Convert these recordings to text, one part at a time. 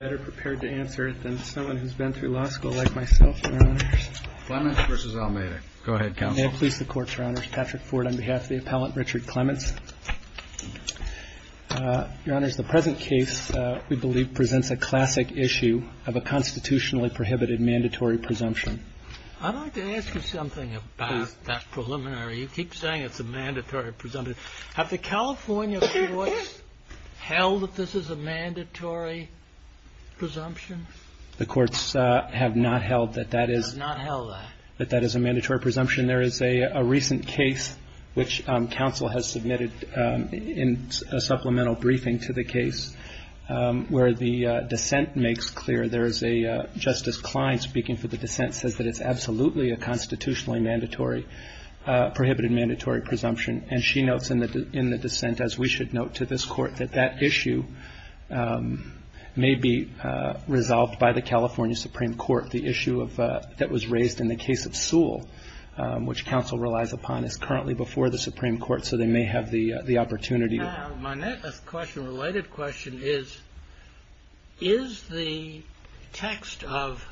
better prepared to answer it than someone who's been through law school like myself, Your Honors. Clements v. Almeida. Go ahead, Counsel. May it please the Court, Your Honors. Patrick Ford on behalf of the appellant, Richard Clements. Your Honors, the present case, we believe, presents a classic issue of a constitutionally prohibited mandatory presumption. I'd like to ask you something about that preliminary. You keep saying it's a mandatory presumption. Have the California courts held that this is a mandatory presumption? The courts have not held that that is a mandatory presumption. There is a recent case which counsel has submitted in a supplemental briefing to the case where the dissent makes clear. Justice Klein, speaking for the dissent, says that it's absolutely a constitutionally mandatory, prohibited mandatory presumption. And she notes in the dissent, as we should note to this Court, that that issue may be resolved by the California Supreme Court. The issue that was raised in the case of Sewell, which counsel relies upon, is currently before the Supreme Court, so they may have the opportunity. Now, my next question, a related question, is, is the text of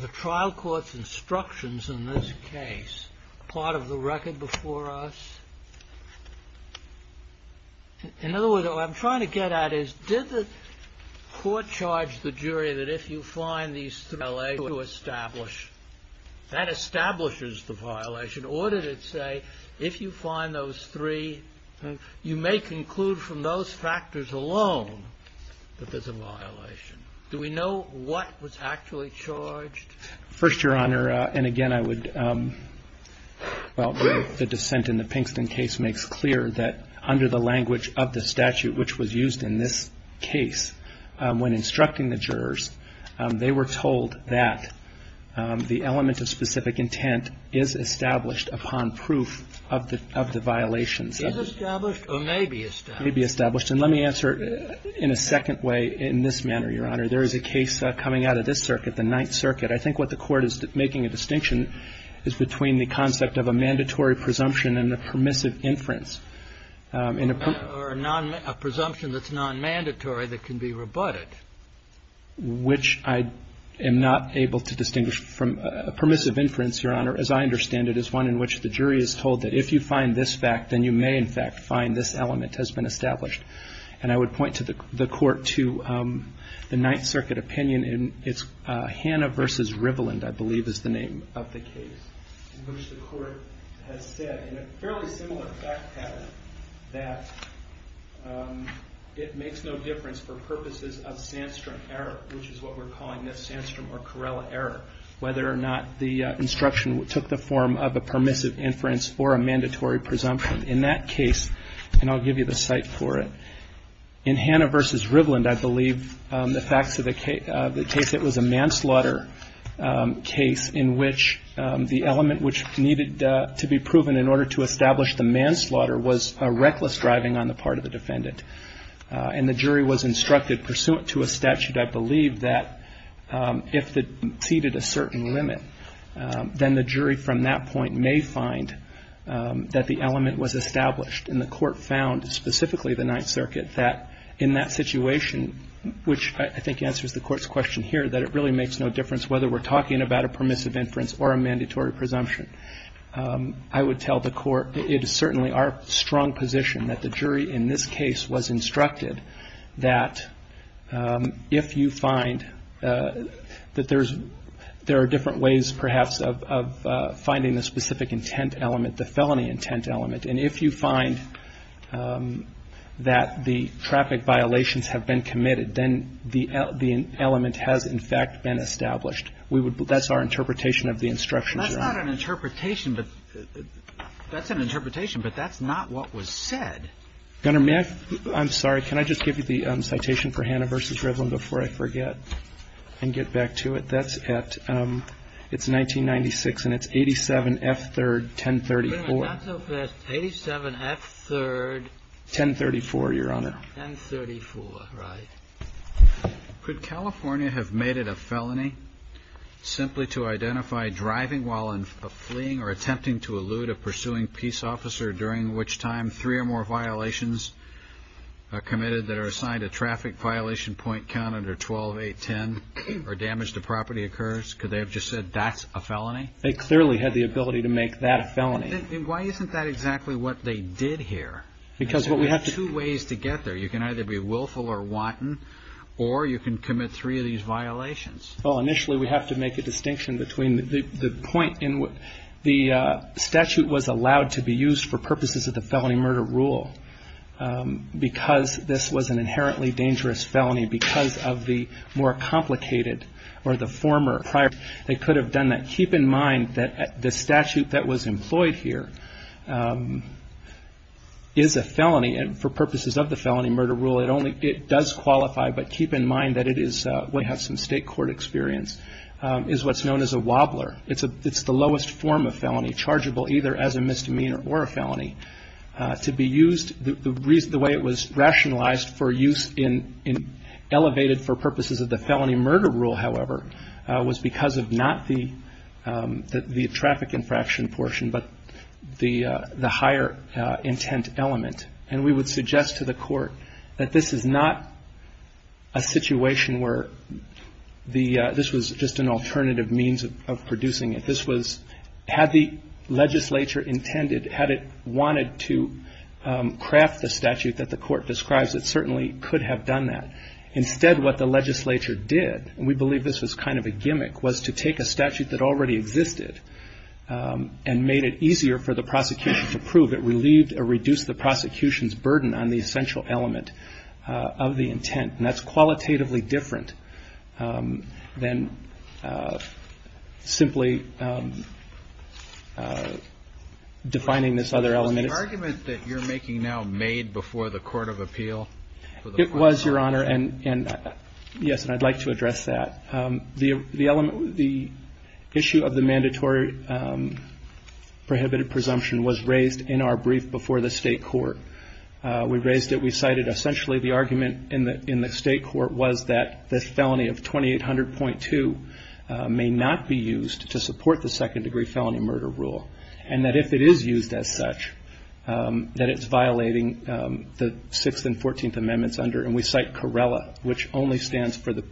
the trial court's instructions in this case part of the record before us? In other words, what I'm trying to get at is, did the court charge the jury that if you find these three LA to establish, that establishes the violation? Or did it say, if you find those three, you may conclude from those factors alone that there's a violation? Do we know what was actually charged? First, Your Honor, and again, I would, well, the dissent in the Pinkston case makes clear that under the language of the statute which was used in this case, when instructing the jurors, they were told that the element of specific intent is established upon proof of the violations. It is established or may be established? May be established. And let me answer in a second way in this manner, Your Honor. There is a case coming out of this circuit, the Ninth Circuit. I think what the Court is making a distinction is between the concept of a mandatory presumption and a permissive inference. Or a presumption that's non-mandatory that can be rebutted. Which I am not able to distinguish from a permissive inference, Your Honor, as I understand it, is one in which the jury is told that if you find this fact, then you may in fact find this element has been established. And I would point to the Court to the Ninth Circuit opinion in its Hanna v. Riveland, I believe, is the name of the case. In which the Court has said in a fairly similar fact pattern that it makes no difference for purposes of Sandstrom error, which is what we're calling this Sandstrom or Corella error. Whether or not the instruction took the form of a permissive inference or a mandatory presumption. In that case, and I'll give you the site for it, in Hanna v. Riveland, I believe, the facts of the case, it was a manslaughter case in which the element which needed to be proven in order to establish the manslaughter was a reckless driving on the part of the defendant. And the jury was instructed pursuant to a statute, I believe, that if it exceeded a certain limit, then the jury from that point may find that the element was established. And the Court found, specifically the Ninth Circuit, that in that situation, which I think answers the Court's question here, that it really makes no difference whether we're talking about a permissive inference or a mandatory presumption. I would tell the Court it is certainly our strong position that the jury in this case was instructed that if you find that there are different ways, perhaps, of finding the specific intent element, the felony intent element. And if you find that the traffic violations have been committed, then the element has, in fact, been established. That's our interpretation of the instructions. Kennedy. That's not an interpretation. That's an interpretation, but that's not what was said. I'm sorry. Can I just give you the citation for Hanna v. Riveland before I forget and get back to it? That's at, it's 1996, and it's 87F3, 1034. Wait a minute. Not so fast. 87F3. 1034, Your Honor. 1034. Right. Could California have made it a felony simply to identify driving while fleeing or attempting to elude a pursuing peace officer, during which time three or more violations are committed that are assigned a traffic violation point count under 12-8-10 or damage to property occurs? Could they have just said, that's a felony? They clearly had the ability to make that a felony. Then why isn't that exactly what they did here? Because what we have to. There are two ways to get there. You can either be willful or wanton, or you can commit three of these violations. Well, initially we have to make a distinction between the point in which the statute was allowed to be used for purposes of the felony because of the more complicated or the former prior. They could have done that. Keep in mind that the statute that was employed here is a felony, and for purposes of the felony murder rule, it does qualify. But keep in mind that it is what has some state court experience, is what's known as a wobbler. It's the lowest form of felony, chargeable either as a misdemeanor or a felony. The way it was rationalized for use elevated for purposes of the felony murder rule, however, was because of not the traffic infraction portion, but the higher intent element. And we would suggest to the court that this is not a situation where this was just an alternative means of producing it. Had the legislature intended, had it wanted to craft the statute that the court describes, it certainly could have done that. Instead, what the legislature did, and we believe this was kind of a gimmick, was to take a statute that already existed and made it easier for the prosecution to prove. It relieved or reduced the prosecution's burden on the essential element of the intent. And that's qualitatively different than simply defining this other element. Was the argument that you're making now made before the court of appeal? It was, Your Honor, and yes, and I'd like to address that. The issue of the mandatory prohibited presumption was raised in our brief before the state court. We raised it. We cited essentially the argument in the state court was that this felony of 2800.2 may not be used to support the second degree felony murder rule. And that if it is used as such, that it's violating the 6th and 14th Amendments under, and we cite Corella, which only stands for the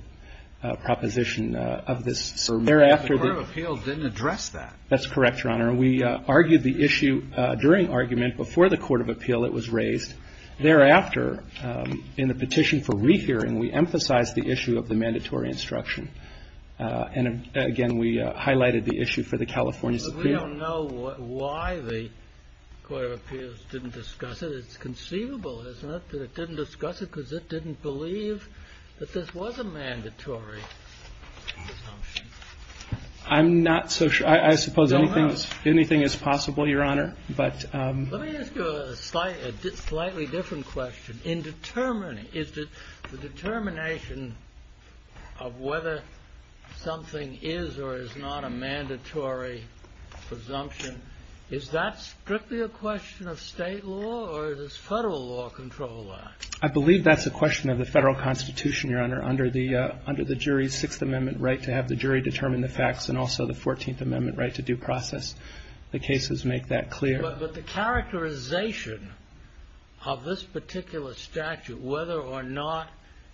proposition of this. The court of appeal didn't address that. That's correct, Your Honor. We argued the issue during argument before the court of appeal it was raised. Thereafter, in the petition for rehearing, we emphasized the issue of the mandatory instruction. And again, we highlighted the issue for the California Supreme Court. But we don't know why the court of appeals didn't discuss it. It's conceivable, isn't it, that it didn't discuss it because it didn't believe that this was a mandatory presumption. I'm not so sure. I suppose anything is possible, Your Honor. Let me ask you a slightly different question. Is the determination of whether something is or is not a mandatory presumption, is that strictly a question of state law or does federal law control that? I believe that's a question of the federal constitution, Your Honor, under the jury's Sixth Amendment right to have the jury determine the facts and also the Fourteenth Amendment right to due process. The cases make that clear. But the characterization of this particular statute, whether or not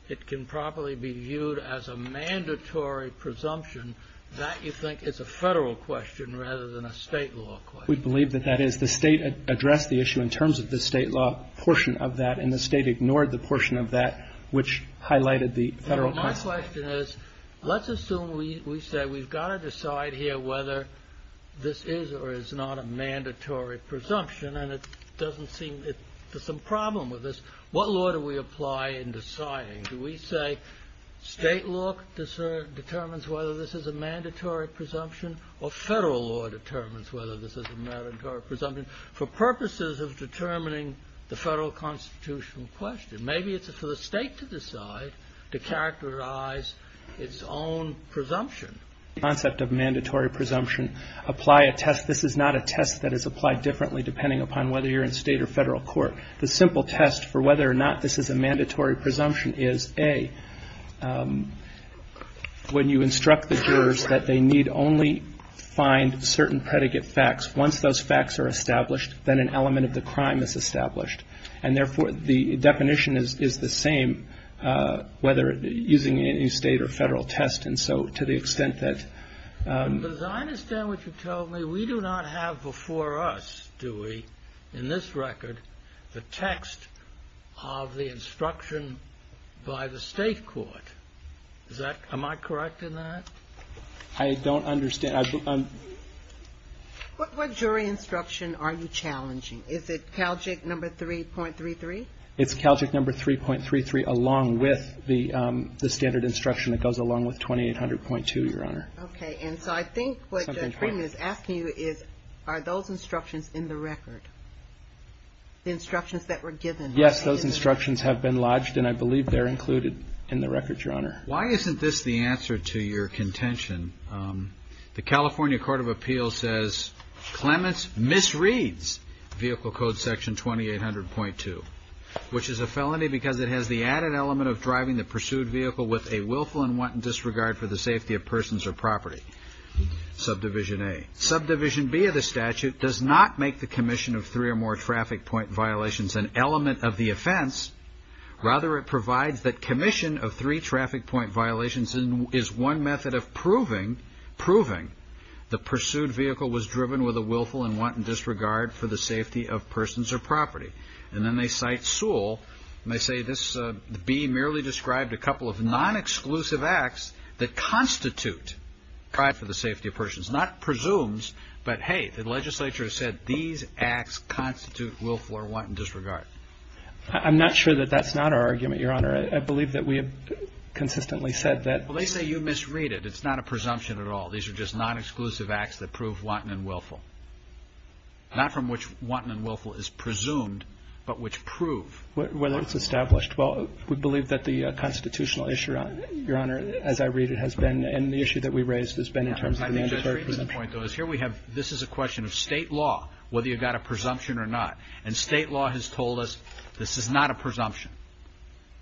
it can properly be viewed as a mandatory presumption, that, you think, is a federal question rather than a state law question. We believe that that is. The state addressed the issue in terms of the state law portion of that, and the state ignored the portion of that which highlighted the federal constitution. My question is let's assume we say we've got to decide here whether this is or is not a mandatory presumption, and it doesn't seem there's some problem with this. What law do we apply in deciding? Do we say state law determines whether this is a mandatory presumption or federal law determines whether this is a mandatory presumption? for purposes of determining the federal constitutional question. Maybe it's for the state to decide to characterize its own presumption. The concept of mandatory presumption apply a test. This is not a test that is applied differently depending upon whether you're in state or federal court. The simple test for whether or not this is a mandatory presumption is, A, when you instruct the jurors that they need only find certain predicate facts, once those facts are established, then an element of the crime is established. And, therefore, the definition is the same whether using any state or federal test. And so to the extent that — But as I understand what you're telling me, we do not have before us, do we, in this record, the text of the instruction by the state court. Is that — am I correct in that? I don't understand. What jury instruction are you challenging? Is it CALJIC number 3.33? It's CALJIC number 3.33 along with the standard instruction that goes along with 2800.2, Your Honor. Okay. And so I think what Judge Green is asking you is, are those instructions in the record, the instructions that were given? Yes. Those instructions have been lodged, and I believe they're included in the record, Your Honor. Why isn't this the answer to your contention? The California Court of Appeals says Clements misreads Vehicle Code Section 2800.2, which is a felony because it has the added element of driving the pursued vehicle with a willful and wanton disregard for the safety of persons or property. Subdivision A. Subdivision B of the statute does not make the commission of three or more traffic point violations an element of the offense. Rather, it provides that commission of three traffic point violations is one method of proving, proving the pursued vehicle was driven with a willful and wanton disregard for the safety of persons or property. And then they cite Sewell, and they say this B merely described a couple of non-exclusive acts that constitute drive for the safety of persons, not presumes, but, hey, the legislature said these acts constitute willful or wanton disregard. I'm not sure that that's not our argument, Your Honor. I believe that we have consistently said that. Well, they say you misread it. It's not a presumption at all. These are just non-exclusive acts that prove wanton and willful, not from which wanton and willful is presumed, but which prove. Whether it's established. Well, we believe that the constitutional issue, Your Honor, as I read it, has been and the issue that we raised has been in terms of mandatory presumption. My point, though, is here we have, this is a question of state law, whether you've got a presumption or not. And state law has told us this is not a presumption.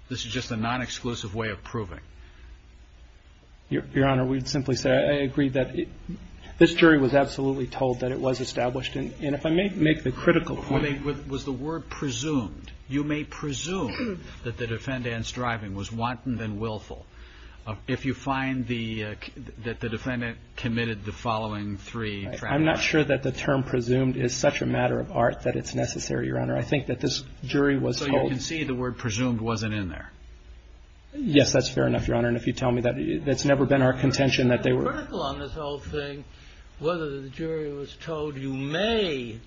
This is just a non-exclusive way of proving. Your Honor, we'd simply say I agree that this jury was absolutely told that it was established. And if I may make the critical point. Was the word presumed. You may presume that the defendant's driving was wanton and willful. If you find that the defendant committed the following three. I'm not sure that the term presumed is such a matter of art that it's necessary, Your Honor. I think that this jury was told. So you can see the word presumed wasn't in there. Yes, that's fair enough, Your Honor. And if you tell me that it's never been our contention that they were. I'm critical on this whole thing, whether the jury was told you may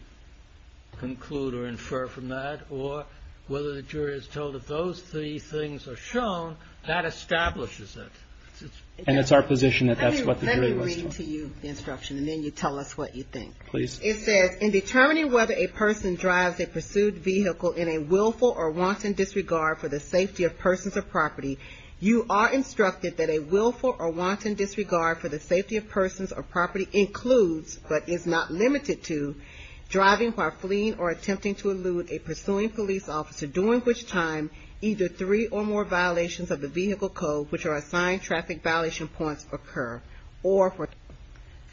conclude or infer from that, or whether the jury was told if those three things are shown, that establishes it. And it's our position that that's what the jury was told. I'm giving to you the instruction, and then you tell us what you think. Please. It says, in determining whether a person drives a pursued vehicle in a willful or wanton disregard for the safety of persons or property, you are instructed that a willful or wanton disregard for the safety of persons or property includes, but is not limited to, driving while fleeing or attempting to elude a pursuing police officer, during which time either three or more violations of the vehicle code, which are assigned traffic violation points, occur.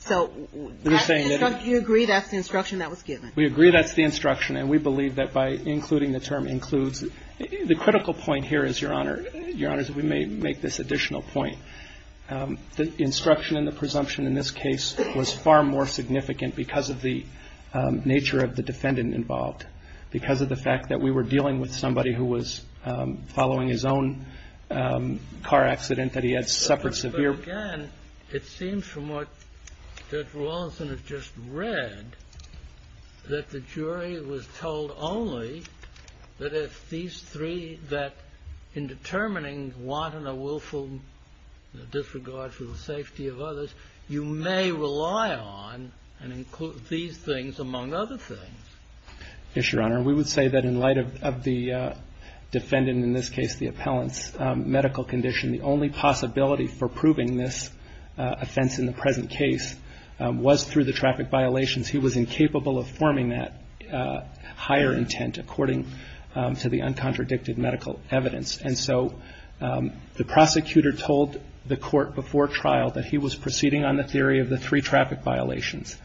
So you agree that's the instruction that was given? We agree that's the instruction, and we believe that by including the term includes, the critical point here is, Your Honor, is that we may make this additional point. The instruction and the presumption in this case was far more significant because of the nature of the defendant involved, because of the fact that we were dealing with somebody who was following his own car accident, that he had suffered severe. But again, it seems from what Judge Rawlinson has just read, that the jury was told only that if these three, that in determining wanton or willful disregard for the safety of others, you may rely on and include these things among other things. Yes, Your Honor. We would say that in light of the defendant, in this case the appellant's medical condition, the only possibility for proving this offense in the present case was through the traffic violations. He was incapable of forming that higher intent according to the uncontradicted medical evidence. And so the prosecutor told the court before trial that he was proceeding on the theory of the three traffic violations.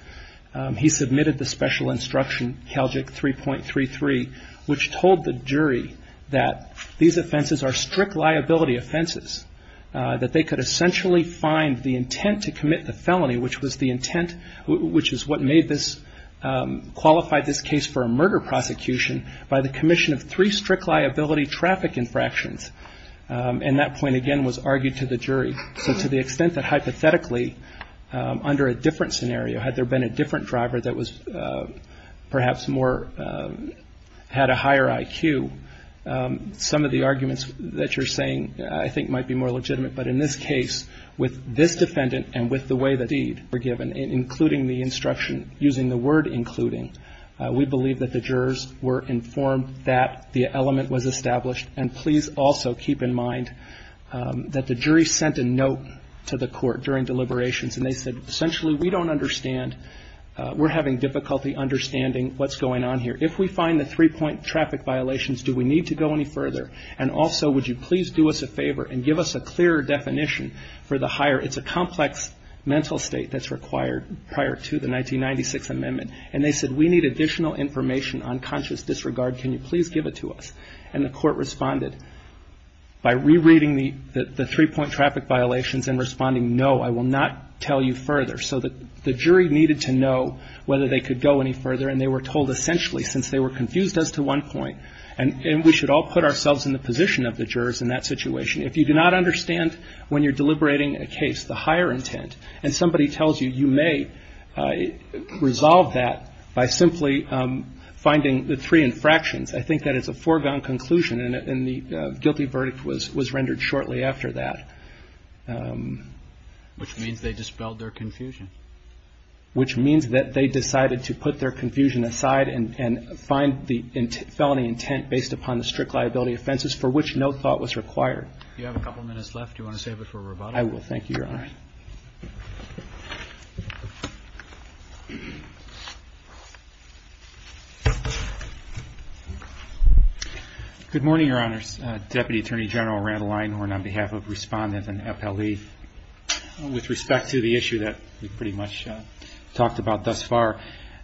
He submitted the special instruction, CALJIC 3.33, which told the jury that these offenses are strict liability offenses, that they could essentially find the intent to commit the felony, which is what qualified this case for a murder prosecution, by the commission of three strict liability traffic infractions. And that point, again, was argued to the jury. So to the extent that hypothetically under a different scenario, had there been a different driver that was perhaps more, had a higher IQ, some of the arguments that you're saying I think might be more legitimate. But in this case, with this defendant and with the way the deed were given, including the instruction, using the word including, we believe that the jurors were informed that the element was established. And please also keep in mind that the jury sent a note to the court during deliberations, and they said essentially we don't understand, we're having difficulty understanding what's going on here. If we find the three point traffic violations, do we need to go any further? And also, would you please do us a favor and give us a clearer definition for the higher, it's a complex mental state that's required prior to the 1996 amendment. And they said we need additional information on conscious disregard. Can you please give it to us? And the court responded by rereading the three point traffic violations and responding, no, I will not tell you further. So the jury needed to know whether they could go any further, and they were told essentially since they were confused as to one point, and we should all put ourselves in the position of the jurors in that situation. If you do not understand when you're deliberating a case, the higher intent, and somebody tells you you may resolve that by simply finding the three infractions. I think that is a foregone conclusion, and the guilty verdict was rendered shortly after that. Which means they dispelled their confusion. Which means that they decided to put their confusion aside and find the felony intent based upon the strict liability offenses, for which no thought was required. Do you have a couple minutes left? Do you want to save it for rebuttal? I will, thank you, Your Honor. Good morning, Your Honors. Deputy Attorney General Randall Einhorn on behalf of Respondent and FLE. With respect to the issue that we pretty much talked about thus far,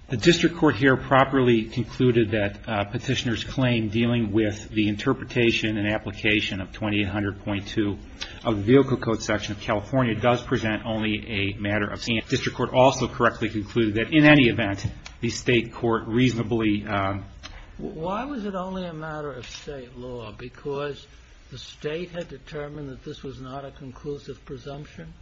the district court here properly concluded that petitioner's claim dealing with the interpretation and application of 2800.2 of the vehicle code section of California does present only a matter of stance. District court also correctly concluded that in any event, the state court reasonably... Why was it only a matter of state law? Because the state had determined that this was not a conclusive presumption?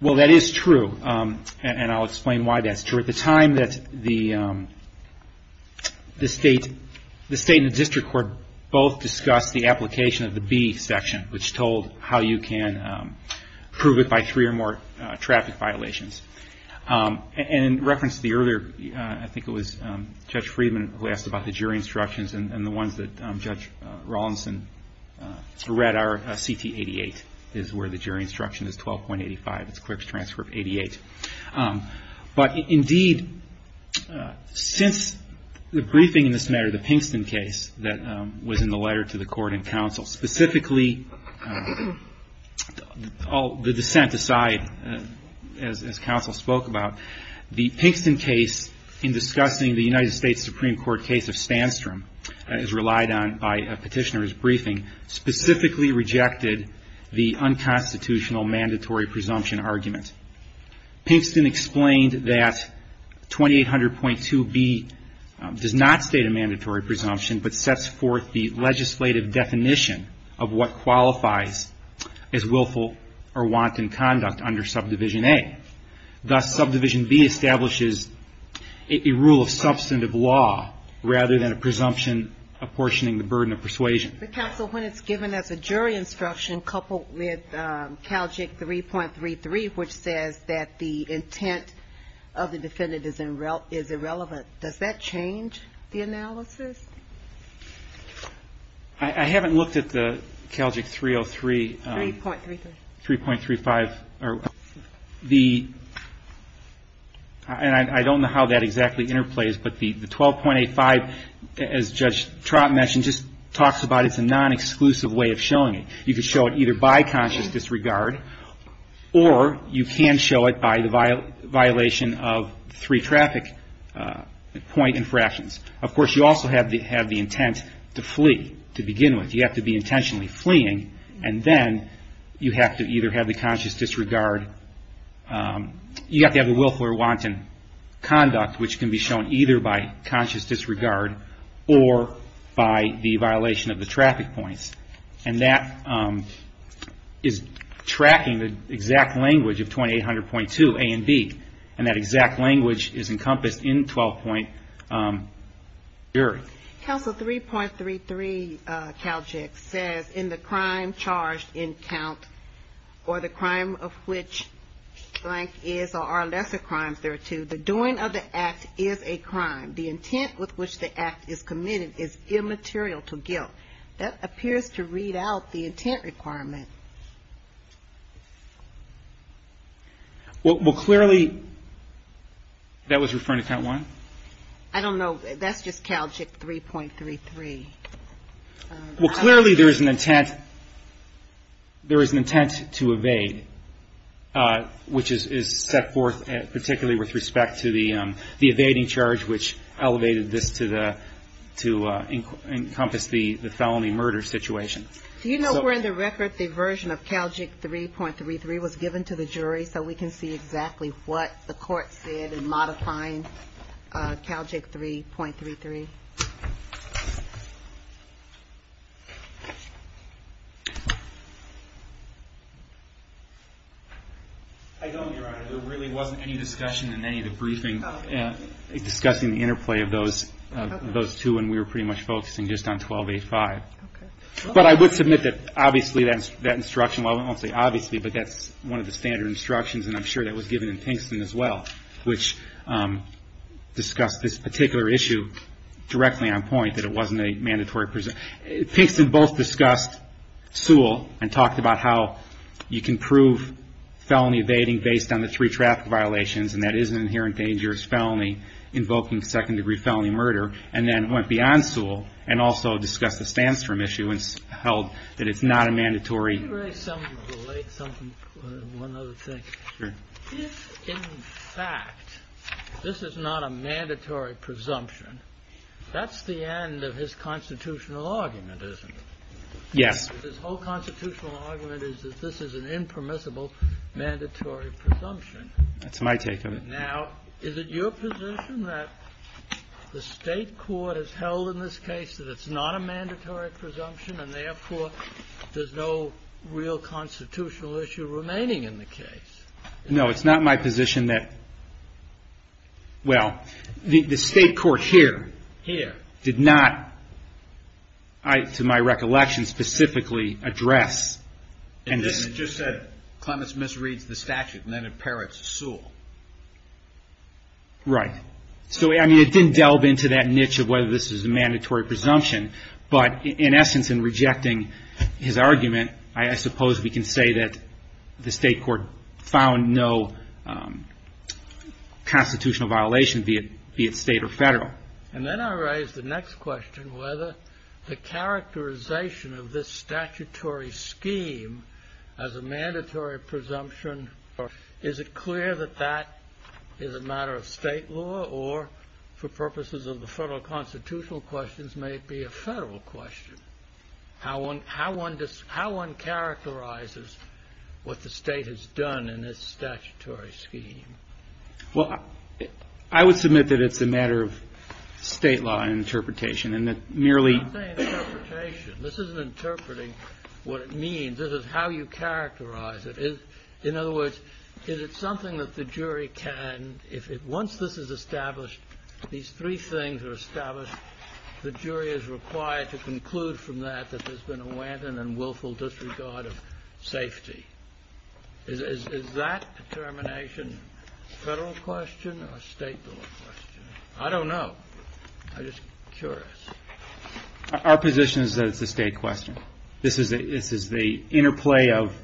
Well, that is true, and I'll explain why that's true. At the time that the state and the district court both discussed the application of the B section, which told how you can prove it by three or more traffic violations. In reference to the earlier... I think it was Judge Friedman who asked about the jury instructions, and the ones that Judge Rawlinson read are CT 88, is where the jury instruction is 12.85. It's a clerk's transfer of 88. But indeed, since the briefing in this matter, the Pinkston case that was in the letter to the court and counsel, specifically the dissent aside, as counsel spoke about, the Pinkston case in discussing the United States Supreme Court case of Stanstrom is relied on by a petitioner's briefing, specifically rejected the unconstitutional mandatory presumption argument. Pinkston explained that 2800.2B does not state a mandatory presumption, but sets forth the legislative definition of what qualifies as willful or wanton conduct under subdivision A. Thus, subdivision B establishes a rule of substantive law, rather than a presumption apportioning the burden of persuasion. But counsel, when it's given as a jury instruction, coupled with CALJIC 3.33, which says that the intent of the defendant is irrelevant, does that change the analysis? I haven't looked at the CALJIC 303. 3.33. 3.35. And I don't know how that exactly interplays, but the 12.85, as Judge Trott mentioned, just talks about it's a non-exclusive way of showing it. You can show it either by conscious disregard, or you can show it by the violation of three traffic point infractions. Of course, you also have the intent to flee, to begin with. You have to be intentionally fleeing, and then you have to either have the conscious disregard. You have to have a willful or wanton conduct, which can be shown either by conscious disregard or by the violation of the traffic points. And that is tracking the exact language of 2800.2 A and B, and that exact language is encompassed in 12-point jury. Counsel, 3.33 CALJIC says in the crime charged in count, or the crime of which blank is or are lesser crimes thereto, the doing of the act is a crime. The intent with which the act is committed is immaterial to guilt. That appears to read out the intent requirement. Well, clearly that was referring to count one? I don't know. That's just CALJIC 3.33. Well, clearly there is an intent to evade, which is set forth particularly with respect to the evading charge, which elevated this to encompass the felony murder situation. Do you know where in the record the version of CALJIC 3.33 was given to the jury so we can see exactly what the court said in modifying CALJIC 3.33? I don't, Your Honor. There really wasn't any discussion in any of the briefings discussing the interplay of those two, and we were pretty much focusing just on 1285. But I would submit that obviously that instruction, well, I won't say obviously, but that's one of the standard instructions, and I'm sure that was given in Pinkston as well, which discussed this particular issue directly on point, that it wasn't a mandatory presumption. Pinkston both discussed Sewell and talked about how you can prove felony evading based on the three traffic violations, and that is an inherent dangerous felony invoking second-degree felony murder, and then went beyond Sewell and also discussed the Stanstrom issue and held that it's not a mandatory. Can you raise something related, one other thing? Sure. If, in fact, this is not a mandatory presumption, that's the end of his constitutional argument, isn't it? Yes. His whole constitutional argument is that this is an impermissible mandatory presumption. That's my take of it. Now, is it your position that the State court has held in this case that it's not a mandatory presumption and, therefore, there's no real constitutional issue remaining in the case? No. It's not my position that, well, the State court here did not, to my recollection, specifically address. It just said Clements misreads the statute and then imperates Sewell. Right. So, I mean, it didn't delve into that niche of whether this was a mandatory presumption, but, in essence, in rejecting his argument, I suppose we can say that the State court found no constitutional violation, be it State or Federal. And then I raise the next question, whether the characterization of this statutory scheme as a mandatory presumption, or is it clear that that is a matter of State law, or, for purposes of the Federal constitutional questions, may it be a Federal question? How one characterizes what the State has done in this statutory scheme? Well, I would submit that it's a matter of State law and interpretation, and that merely... I'm not saying interpretation. This isn't interpreting what it means. This is how you characterize it. In other words, is it something that the jury can... Once this is established, these three things are established, the jury is required to conclude from that that there's been a wanton and willful disregard of safety. Is that determination a Federal question or a State question? I don't know. I'm just curious. Our position is that it's a State question. This is the interplay of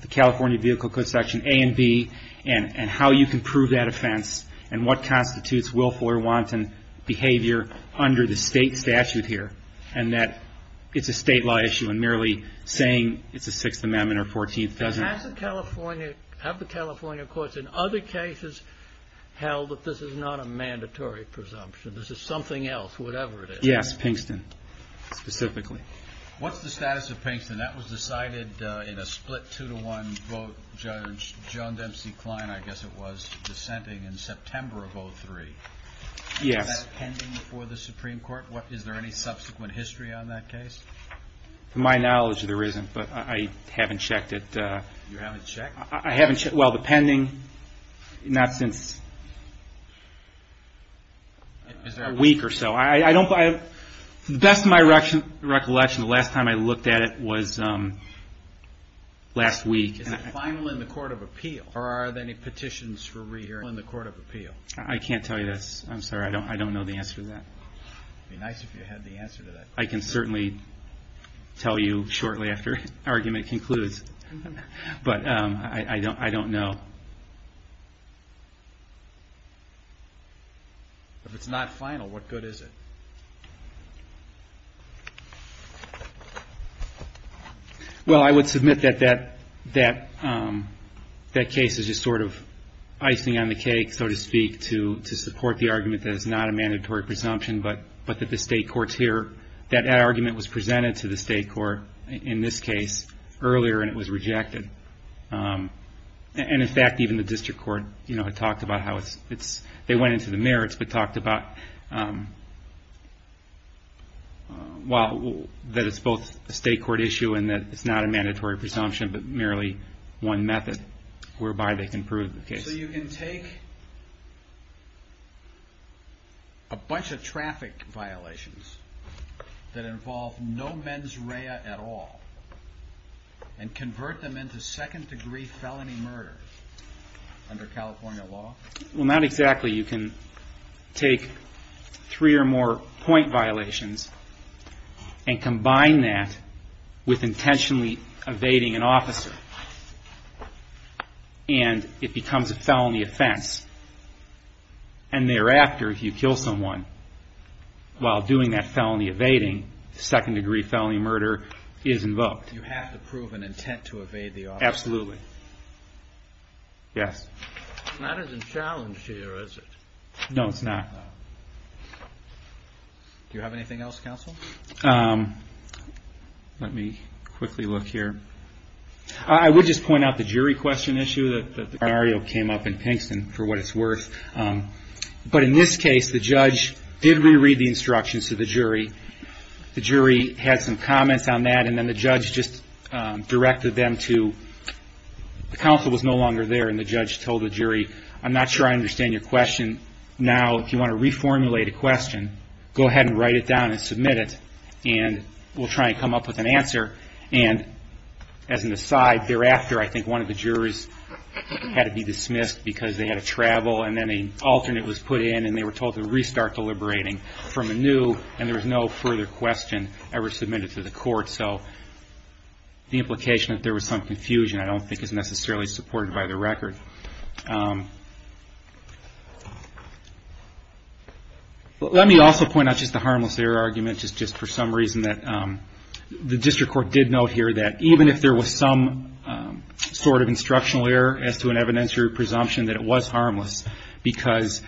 the California Vehicle Code Section A and B and how you can prove that offense and what constitutes willful or wanton behavior under the State statute here, and that it's a State law issue, and merely saying it's the Sixth Amendment or Fourteenth doesn't... Have the California courts in other cases held that this is not a mandatory presumption, this is something else, whatever it is? Yes, Pinkston specifically. What's the status of Pinkston? That was decided in a split two-to-one vote. Judge John Dempsey Klein, I guess it was, dissenting in September of 2003. Yes. Is that pending before the Supreme Court? Is there any subsequent history on that case? To my knowledge, there isn't, but I haven't checked it. You haven't checked? I haven't checked... Well, the pending, not since a week or so. To the best of my recollection, the last time I looked at it was last week. Is it final in the Court of Appeal, or are there any petitions for re-hearing in the Court of Appeal? I can't tell you this. I'm sorry, I don't know the answer to that. It would be nice if you had the answer to that. I can certainly tell you shortly after argument concludes, but I don't know. If it's not final, what good is it? Well, I would submit that that case is just sort of icing on the cake, so to speak, to support the argument that it's not a mandatory presumption, but that the state courts hear. That argument was presented to the state court in this case earlier, and it was rejected. And, in fact, even the district court had talked about how it's... They went into the merits, but talked about... Well, that it's both a state court issue and that it's not a mandatory presumption, but merely one method whereby they can prove the case. So you can take a bunch of traffic violations that involve no mens rea at all and convert them into second-degree felony murder under California law? Well, not exactly. You can take three or more point violations and combine that with intentionally evading an officer, and it becomes a felony offense. And thereafter, if you kill someone while doing that felony evading, second-degree felony murder is invoked. You have to prove an intent to evade the officer? Absolutely. Yes. That isn't challenged here, is it? No, it's not. Do you have anything else, counsel? Let me quickly look here. I would just point out the jury question issue that Mario came up and pinks for what it's worth. But in this case, the judge did reread the instructions to the jury. The jury had some comments on that, and then the judge just directed them to... The counsel was no longer there, and the judge told the jury, I'm not sure I understand your question. Now, if you want to reformulate a question, go ahead and write it down and submit it, and we'll try and come up with an answer. And as an aside, thereafter, I think one of the juries had to be dismissed because they had to travel, and then an alternate was put in, and they were told to restart deliberating from anew, and there was no further question ever submitted to the court. So the implication that there was some confusion I don't think is necessarily supported by the record. Let me also point out just the harmless error argument, just for some reason that... The district court did note here that even if there was some sort of instructional error as to an evidentiary presumption that it was harmless because,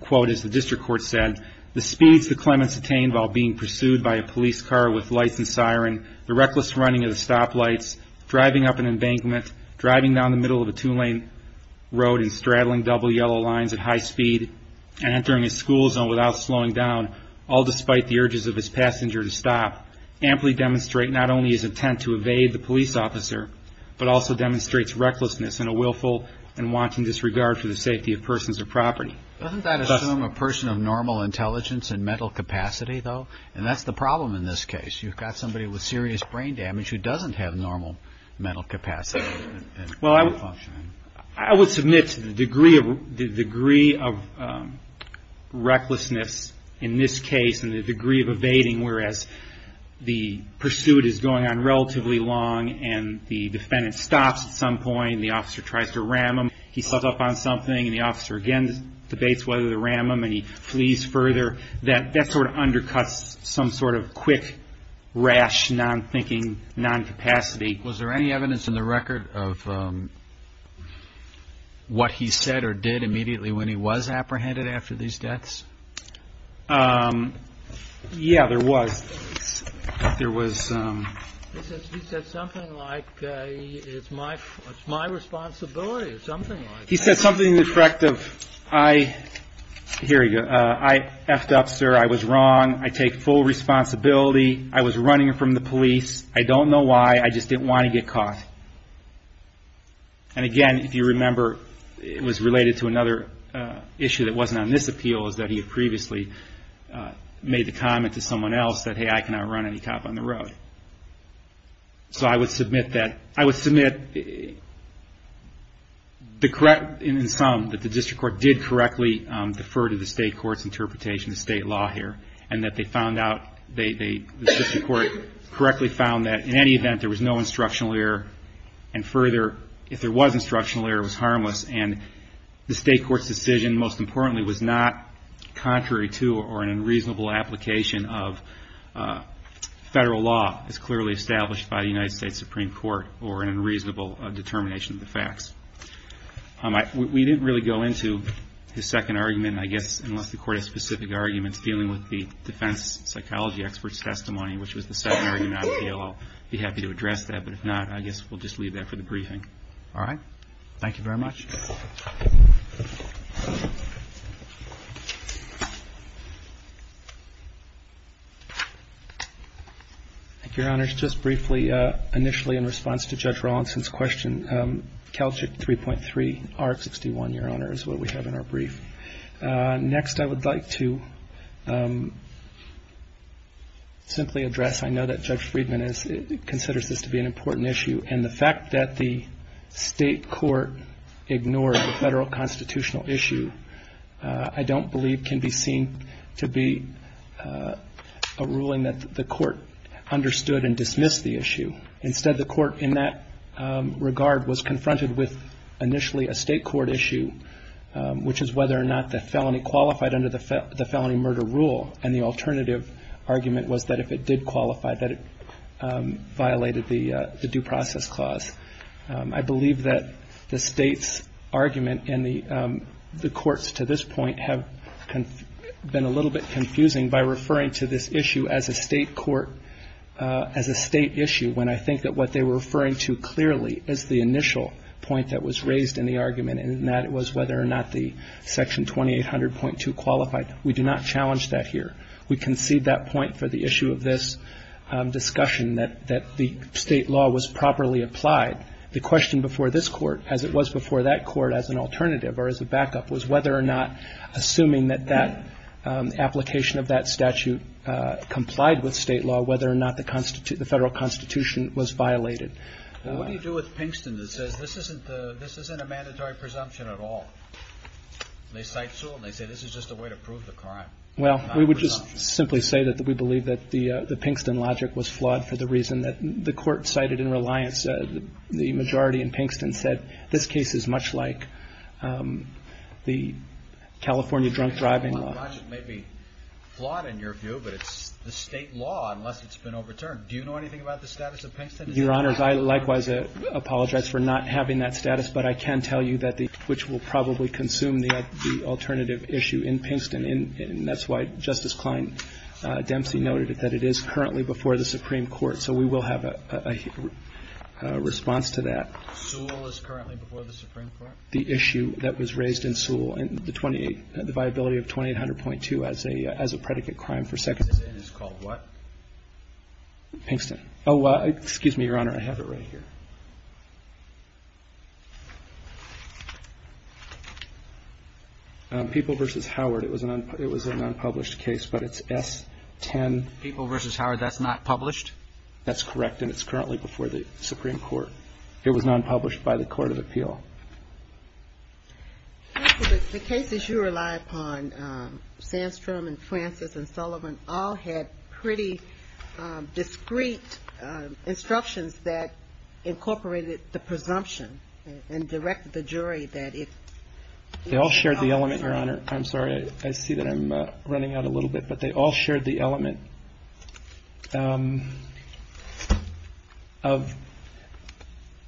quote, as the district court said, the speeds the Clemens attained while being pursued by a police car with lights and siren, the reckless running of the stoplights, driving up an embankment, driving down the middle of a two-lane road and straddling double yellow lines at high speed, and entering a school zone without slowing down, all despite the urges of his passenger to stop, amply demonstrate not only his intent to evade the police officer, but also demonstrates recklessness and a willful and wanting disregard for the safety of persons or property. Doesn't that assume a person of normal intelligence and mental capacity, though? And that's the problem in this case. You've got somebody with serious brain damage who doesn't have normal mental capacity. Well, I would submit to the degree of recklessness in this case and the degree of evading, whereas the pursuit is going on relatively long and the defendant stops at some point and the officer tries to ram him, he steps up on something, and the officer again debates whether to ram him and he flees further. That sort of undercuts some sort of quick, rash, non-thinking, non-capacity. Was there any evidence in the record of what he said or did immediately when he was apprehended after these deaths? Yeah, there was. He said something like, it's my responsibility or something like that. He said something in the effect of, here we go, I effed up, sir. I was wrong. I take full responsibility. I was running from the police. I don't know why. I just didn't want to get caught. And again, if you remember, it was related to another issue that wasn't on this appeal, is that he had previously made the comment to someone else that, hey, I cannot run any cop on the road. So I would submit that. I would submit in sum that the district court did correctly defer to the state court's interpretation of state law here and that they found out, the district court correctly found that in any event, there was no instructional error. And further, if there was instructional error, it was harmless. And the state court's decision, most importantly, was not contrary to or an unreasonable application of federal law as clearly established by the United States Supreme Court or an unreasonable determination of the facts. We didn't really go into his second argument, I guess, unless the court has specific arguments dealing with the defense psychology expert's testimony, which was the second argument on the appeal. I'll be happy to address that. But if not, I guess we'll just leave that for the briefing. All right. Thank you very much. Thank you, Your Honors. Just briefly, initially in response to Judge Rawlinson's question, CalCHIP 3.3, R-61, Your Honor, is what we have in our brief. Next, I would like to simply address, I know that Judge Friedman considers this to be an important issue, and the fact that the state court ignored the federal constitutional issue, I don't believe can be seen to be a ruling that the court understood and dismissed the issue. Instead, the court in that regard was confronted with initially a state court issue, which is whether or not the felony qualified under the felony murder rule, and the alternative argument was that if it did qualify, that it violated the due process clause. I believe that the state's argument and the court's to this point have been a little bit confusing by referring to this issue as a state court, as a state issue, when I think that what they were referring to clearly is the initial point that was raised in the argument, and that was whether or not the Section 2800.2 qualified. We do not challenge that here. We concede that point for the issue of this discussion, that the state law was properly applied. The question before this court, as it was before that court as an alternative or as a backup, was whether or not assuming that that application of that statute complied with state law, whether or not the federal constitution was violated. What do you do with Pinkston that says this isn't a mandatory presumption at all? They cite Sewell, and they say this is just a way to prove the crime. Well, we would just simply say that we believe that the Pinkston logic was flawed for the reason that the court cited in Reliance said, the majority in Pinkston said this case is much like the California drunk driving law. The Pinkston logic may be flawed in your view, but it's the state law unless it's been overturned. Do you know anything about the status of Pinkston? Your Honors, I likewise apologize for not having that status, but I can tell you that the, which will probably consume the alternative issue in Pinkston, and that's why Justice Klein Dempsey noted that it is currently before the Supreme Court, so we will have a response to that. Sewell is currently before the Supreme Court? The issue that was raised in Sewell, and the viability of 2800.2 as a predicate crime for second. It is called what? Pinkston. Oh, excuse me, Your Honor. I have it right here. People v. Howard. It was an unpublished case, but it's S-10. People v. Howard. That's not published? That's correct, and it's currently before the Supreme Court. It was non-published by the Court of Appeal. Counsel, the cases you rely upon, Sandstrom and Francis and Sullivan, all had pretty discreet instructions that incorporated the presumption and directed the jury that it was not published. They all shared the element, Your Honor. I'm sorry, I see that I'm running out a little bit, but they all shared the element. Of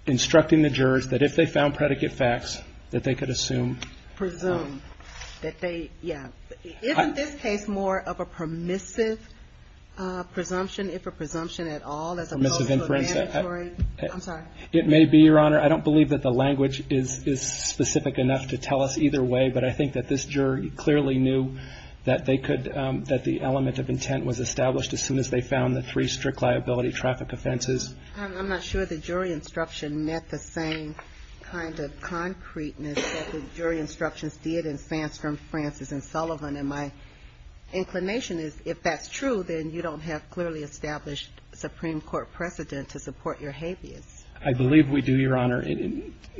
instructing the jurors that if they found predicate facts, that they could assume. Presume. That they, yeah. Isn't this case more of a permissive presumption, if a presumption at all, as opposed to a mandatory? Permissive inference. I'm sorry. It may be, Your Honor. I don't believe that the language is specific enough to tell us either way, but I think that this jury clearly knew that the element of intent was established as soon as they found the three strict liability traffic offenses. I'm not sure the jury instruction met the same kind of concreteness that the jury instructions did in Sandstrom, Francis, and Sullivan. And my inclination is if that's true, then you don't have clearly established Supreme Court precedent to support your habeas. I believe we do, Your Honor,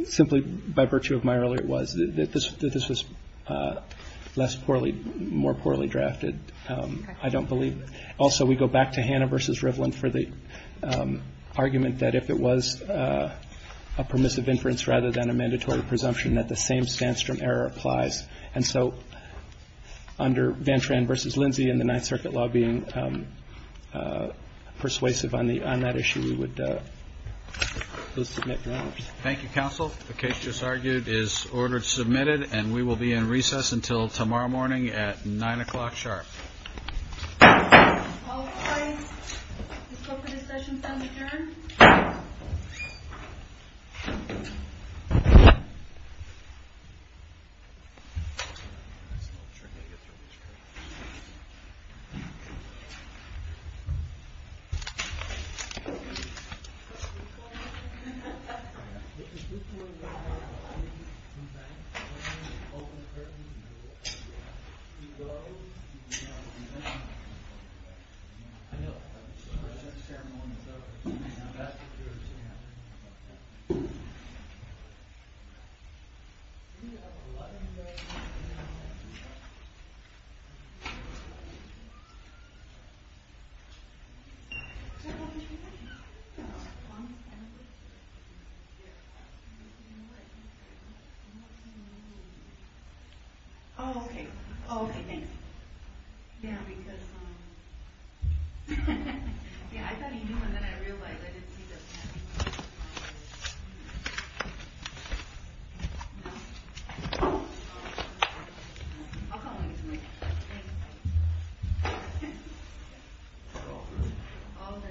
simply by virtue of my earlier words. This was less poorly, more poorly drafted. Okay. I don't believe. Also, we go back to Hannah v. Rivlin for the argument that if it was a permissive inference rather than a mandatory presumption, that the same Sandstrom error applies. And so under Van Tran v. Lindsay and the Ninth Circuit law being persuasive on the issue, we would submit grounds. Thank you, counsel. The case just argued is ordered submitted, and we will be in recess until tomorrow morning at 9 o'clock sharp. All right. The scope of this session is now adjourned. I know. Okay. Okay. Thanks. Yeah, because... Yeah, I thought he knew, and then I realized I didn't see the... I'll come with you. All done.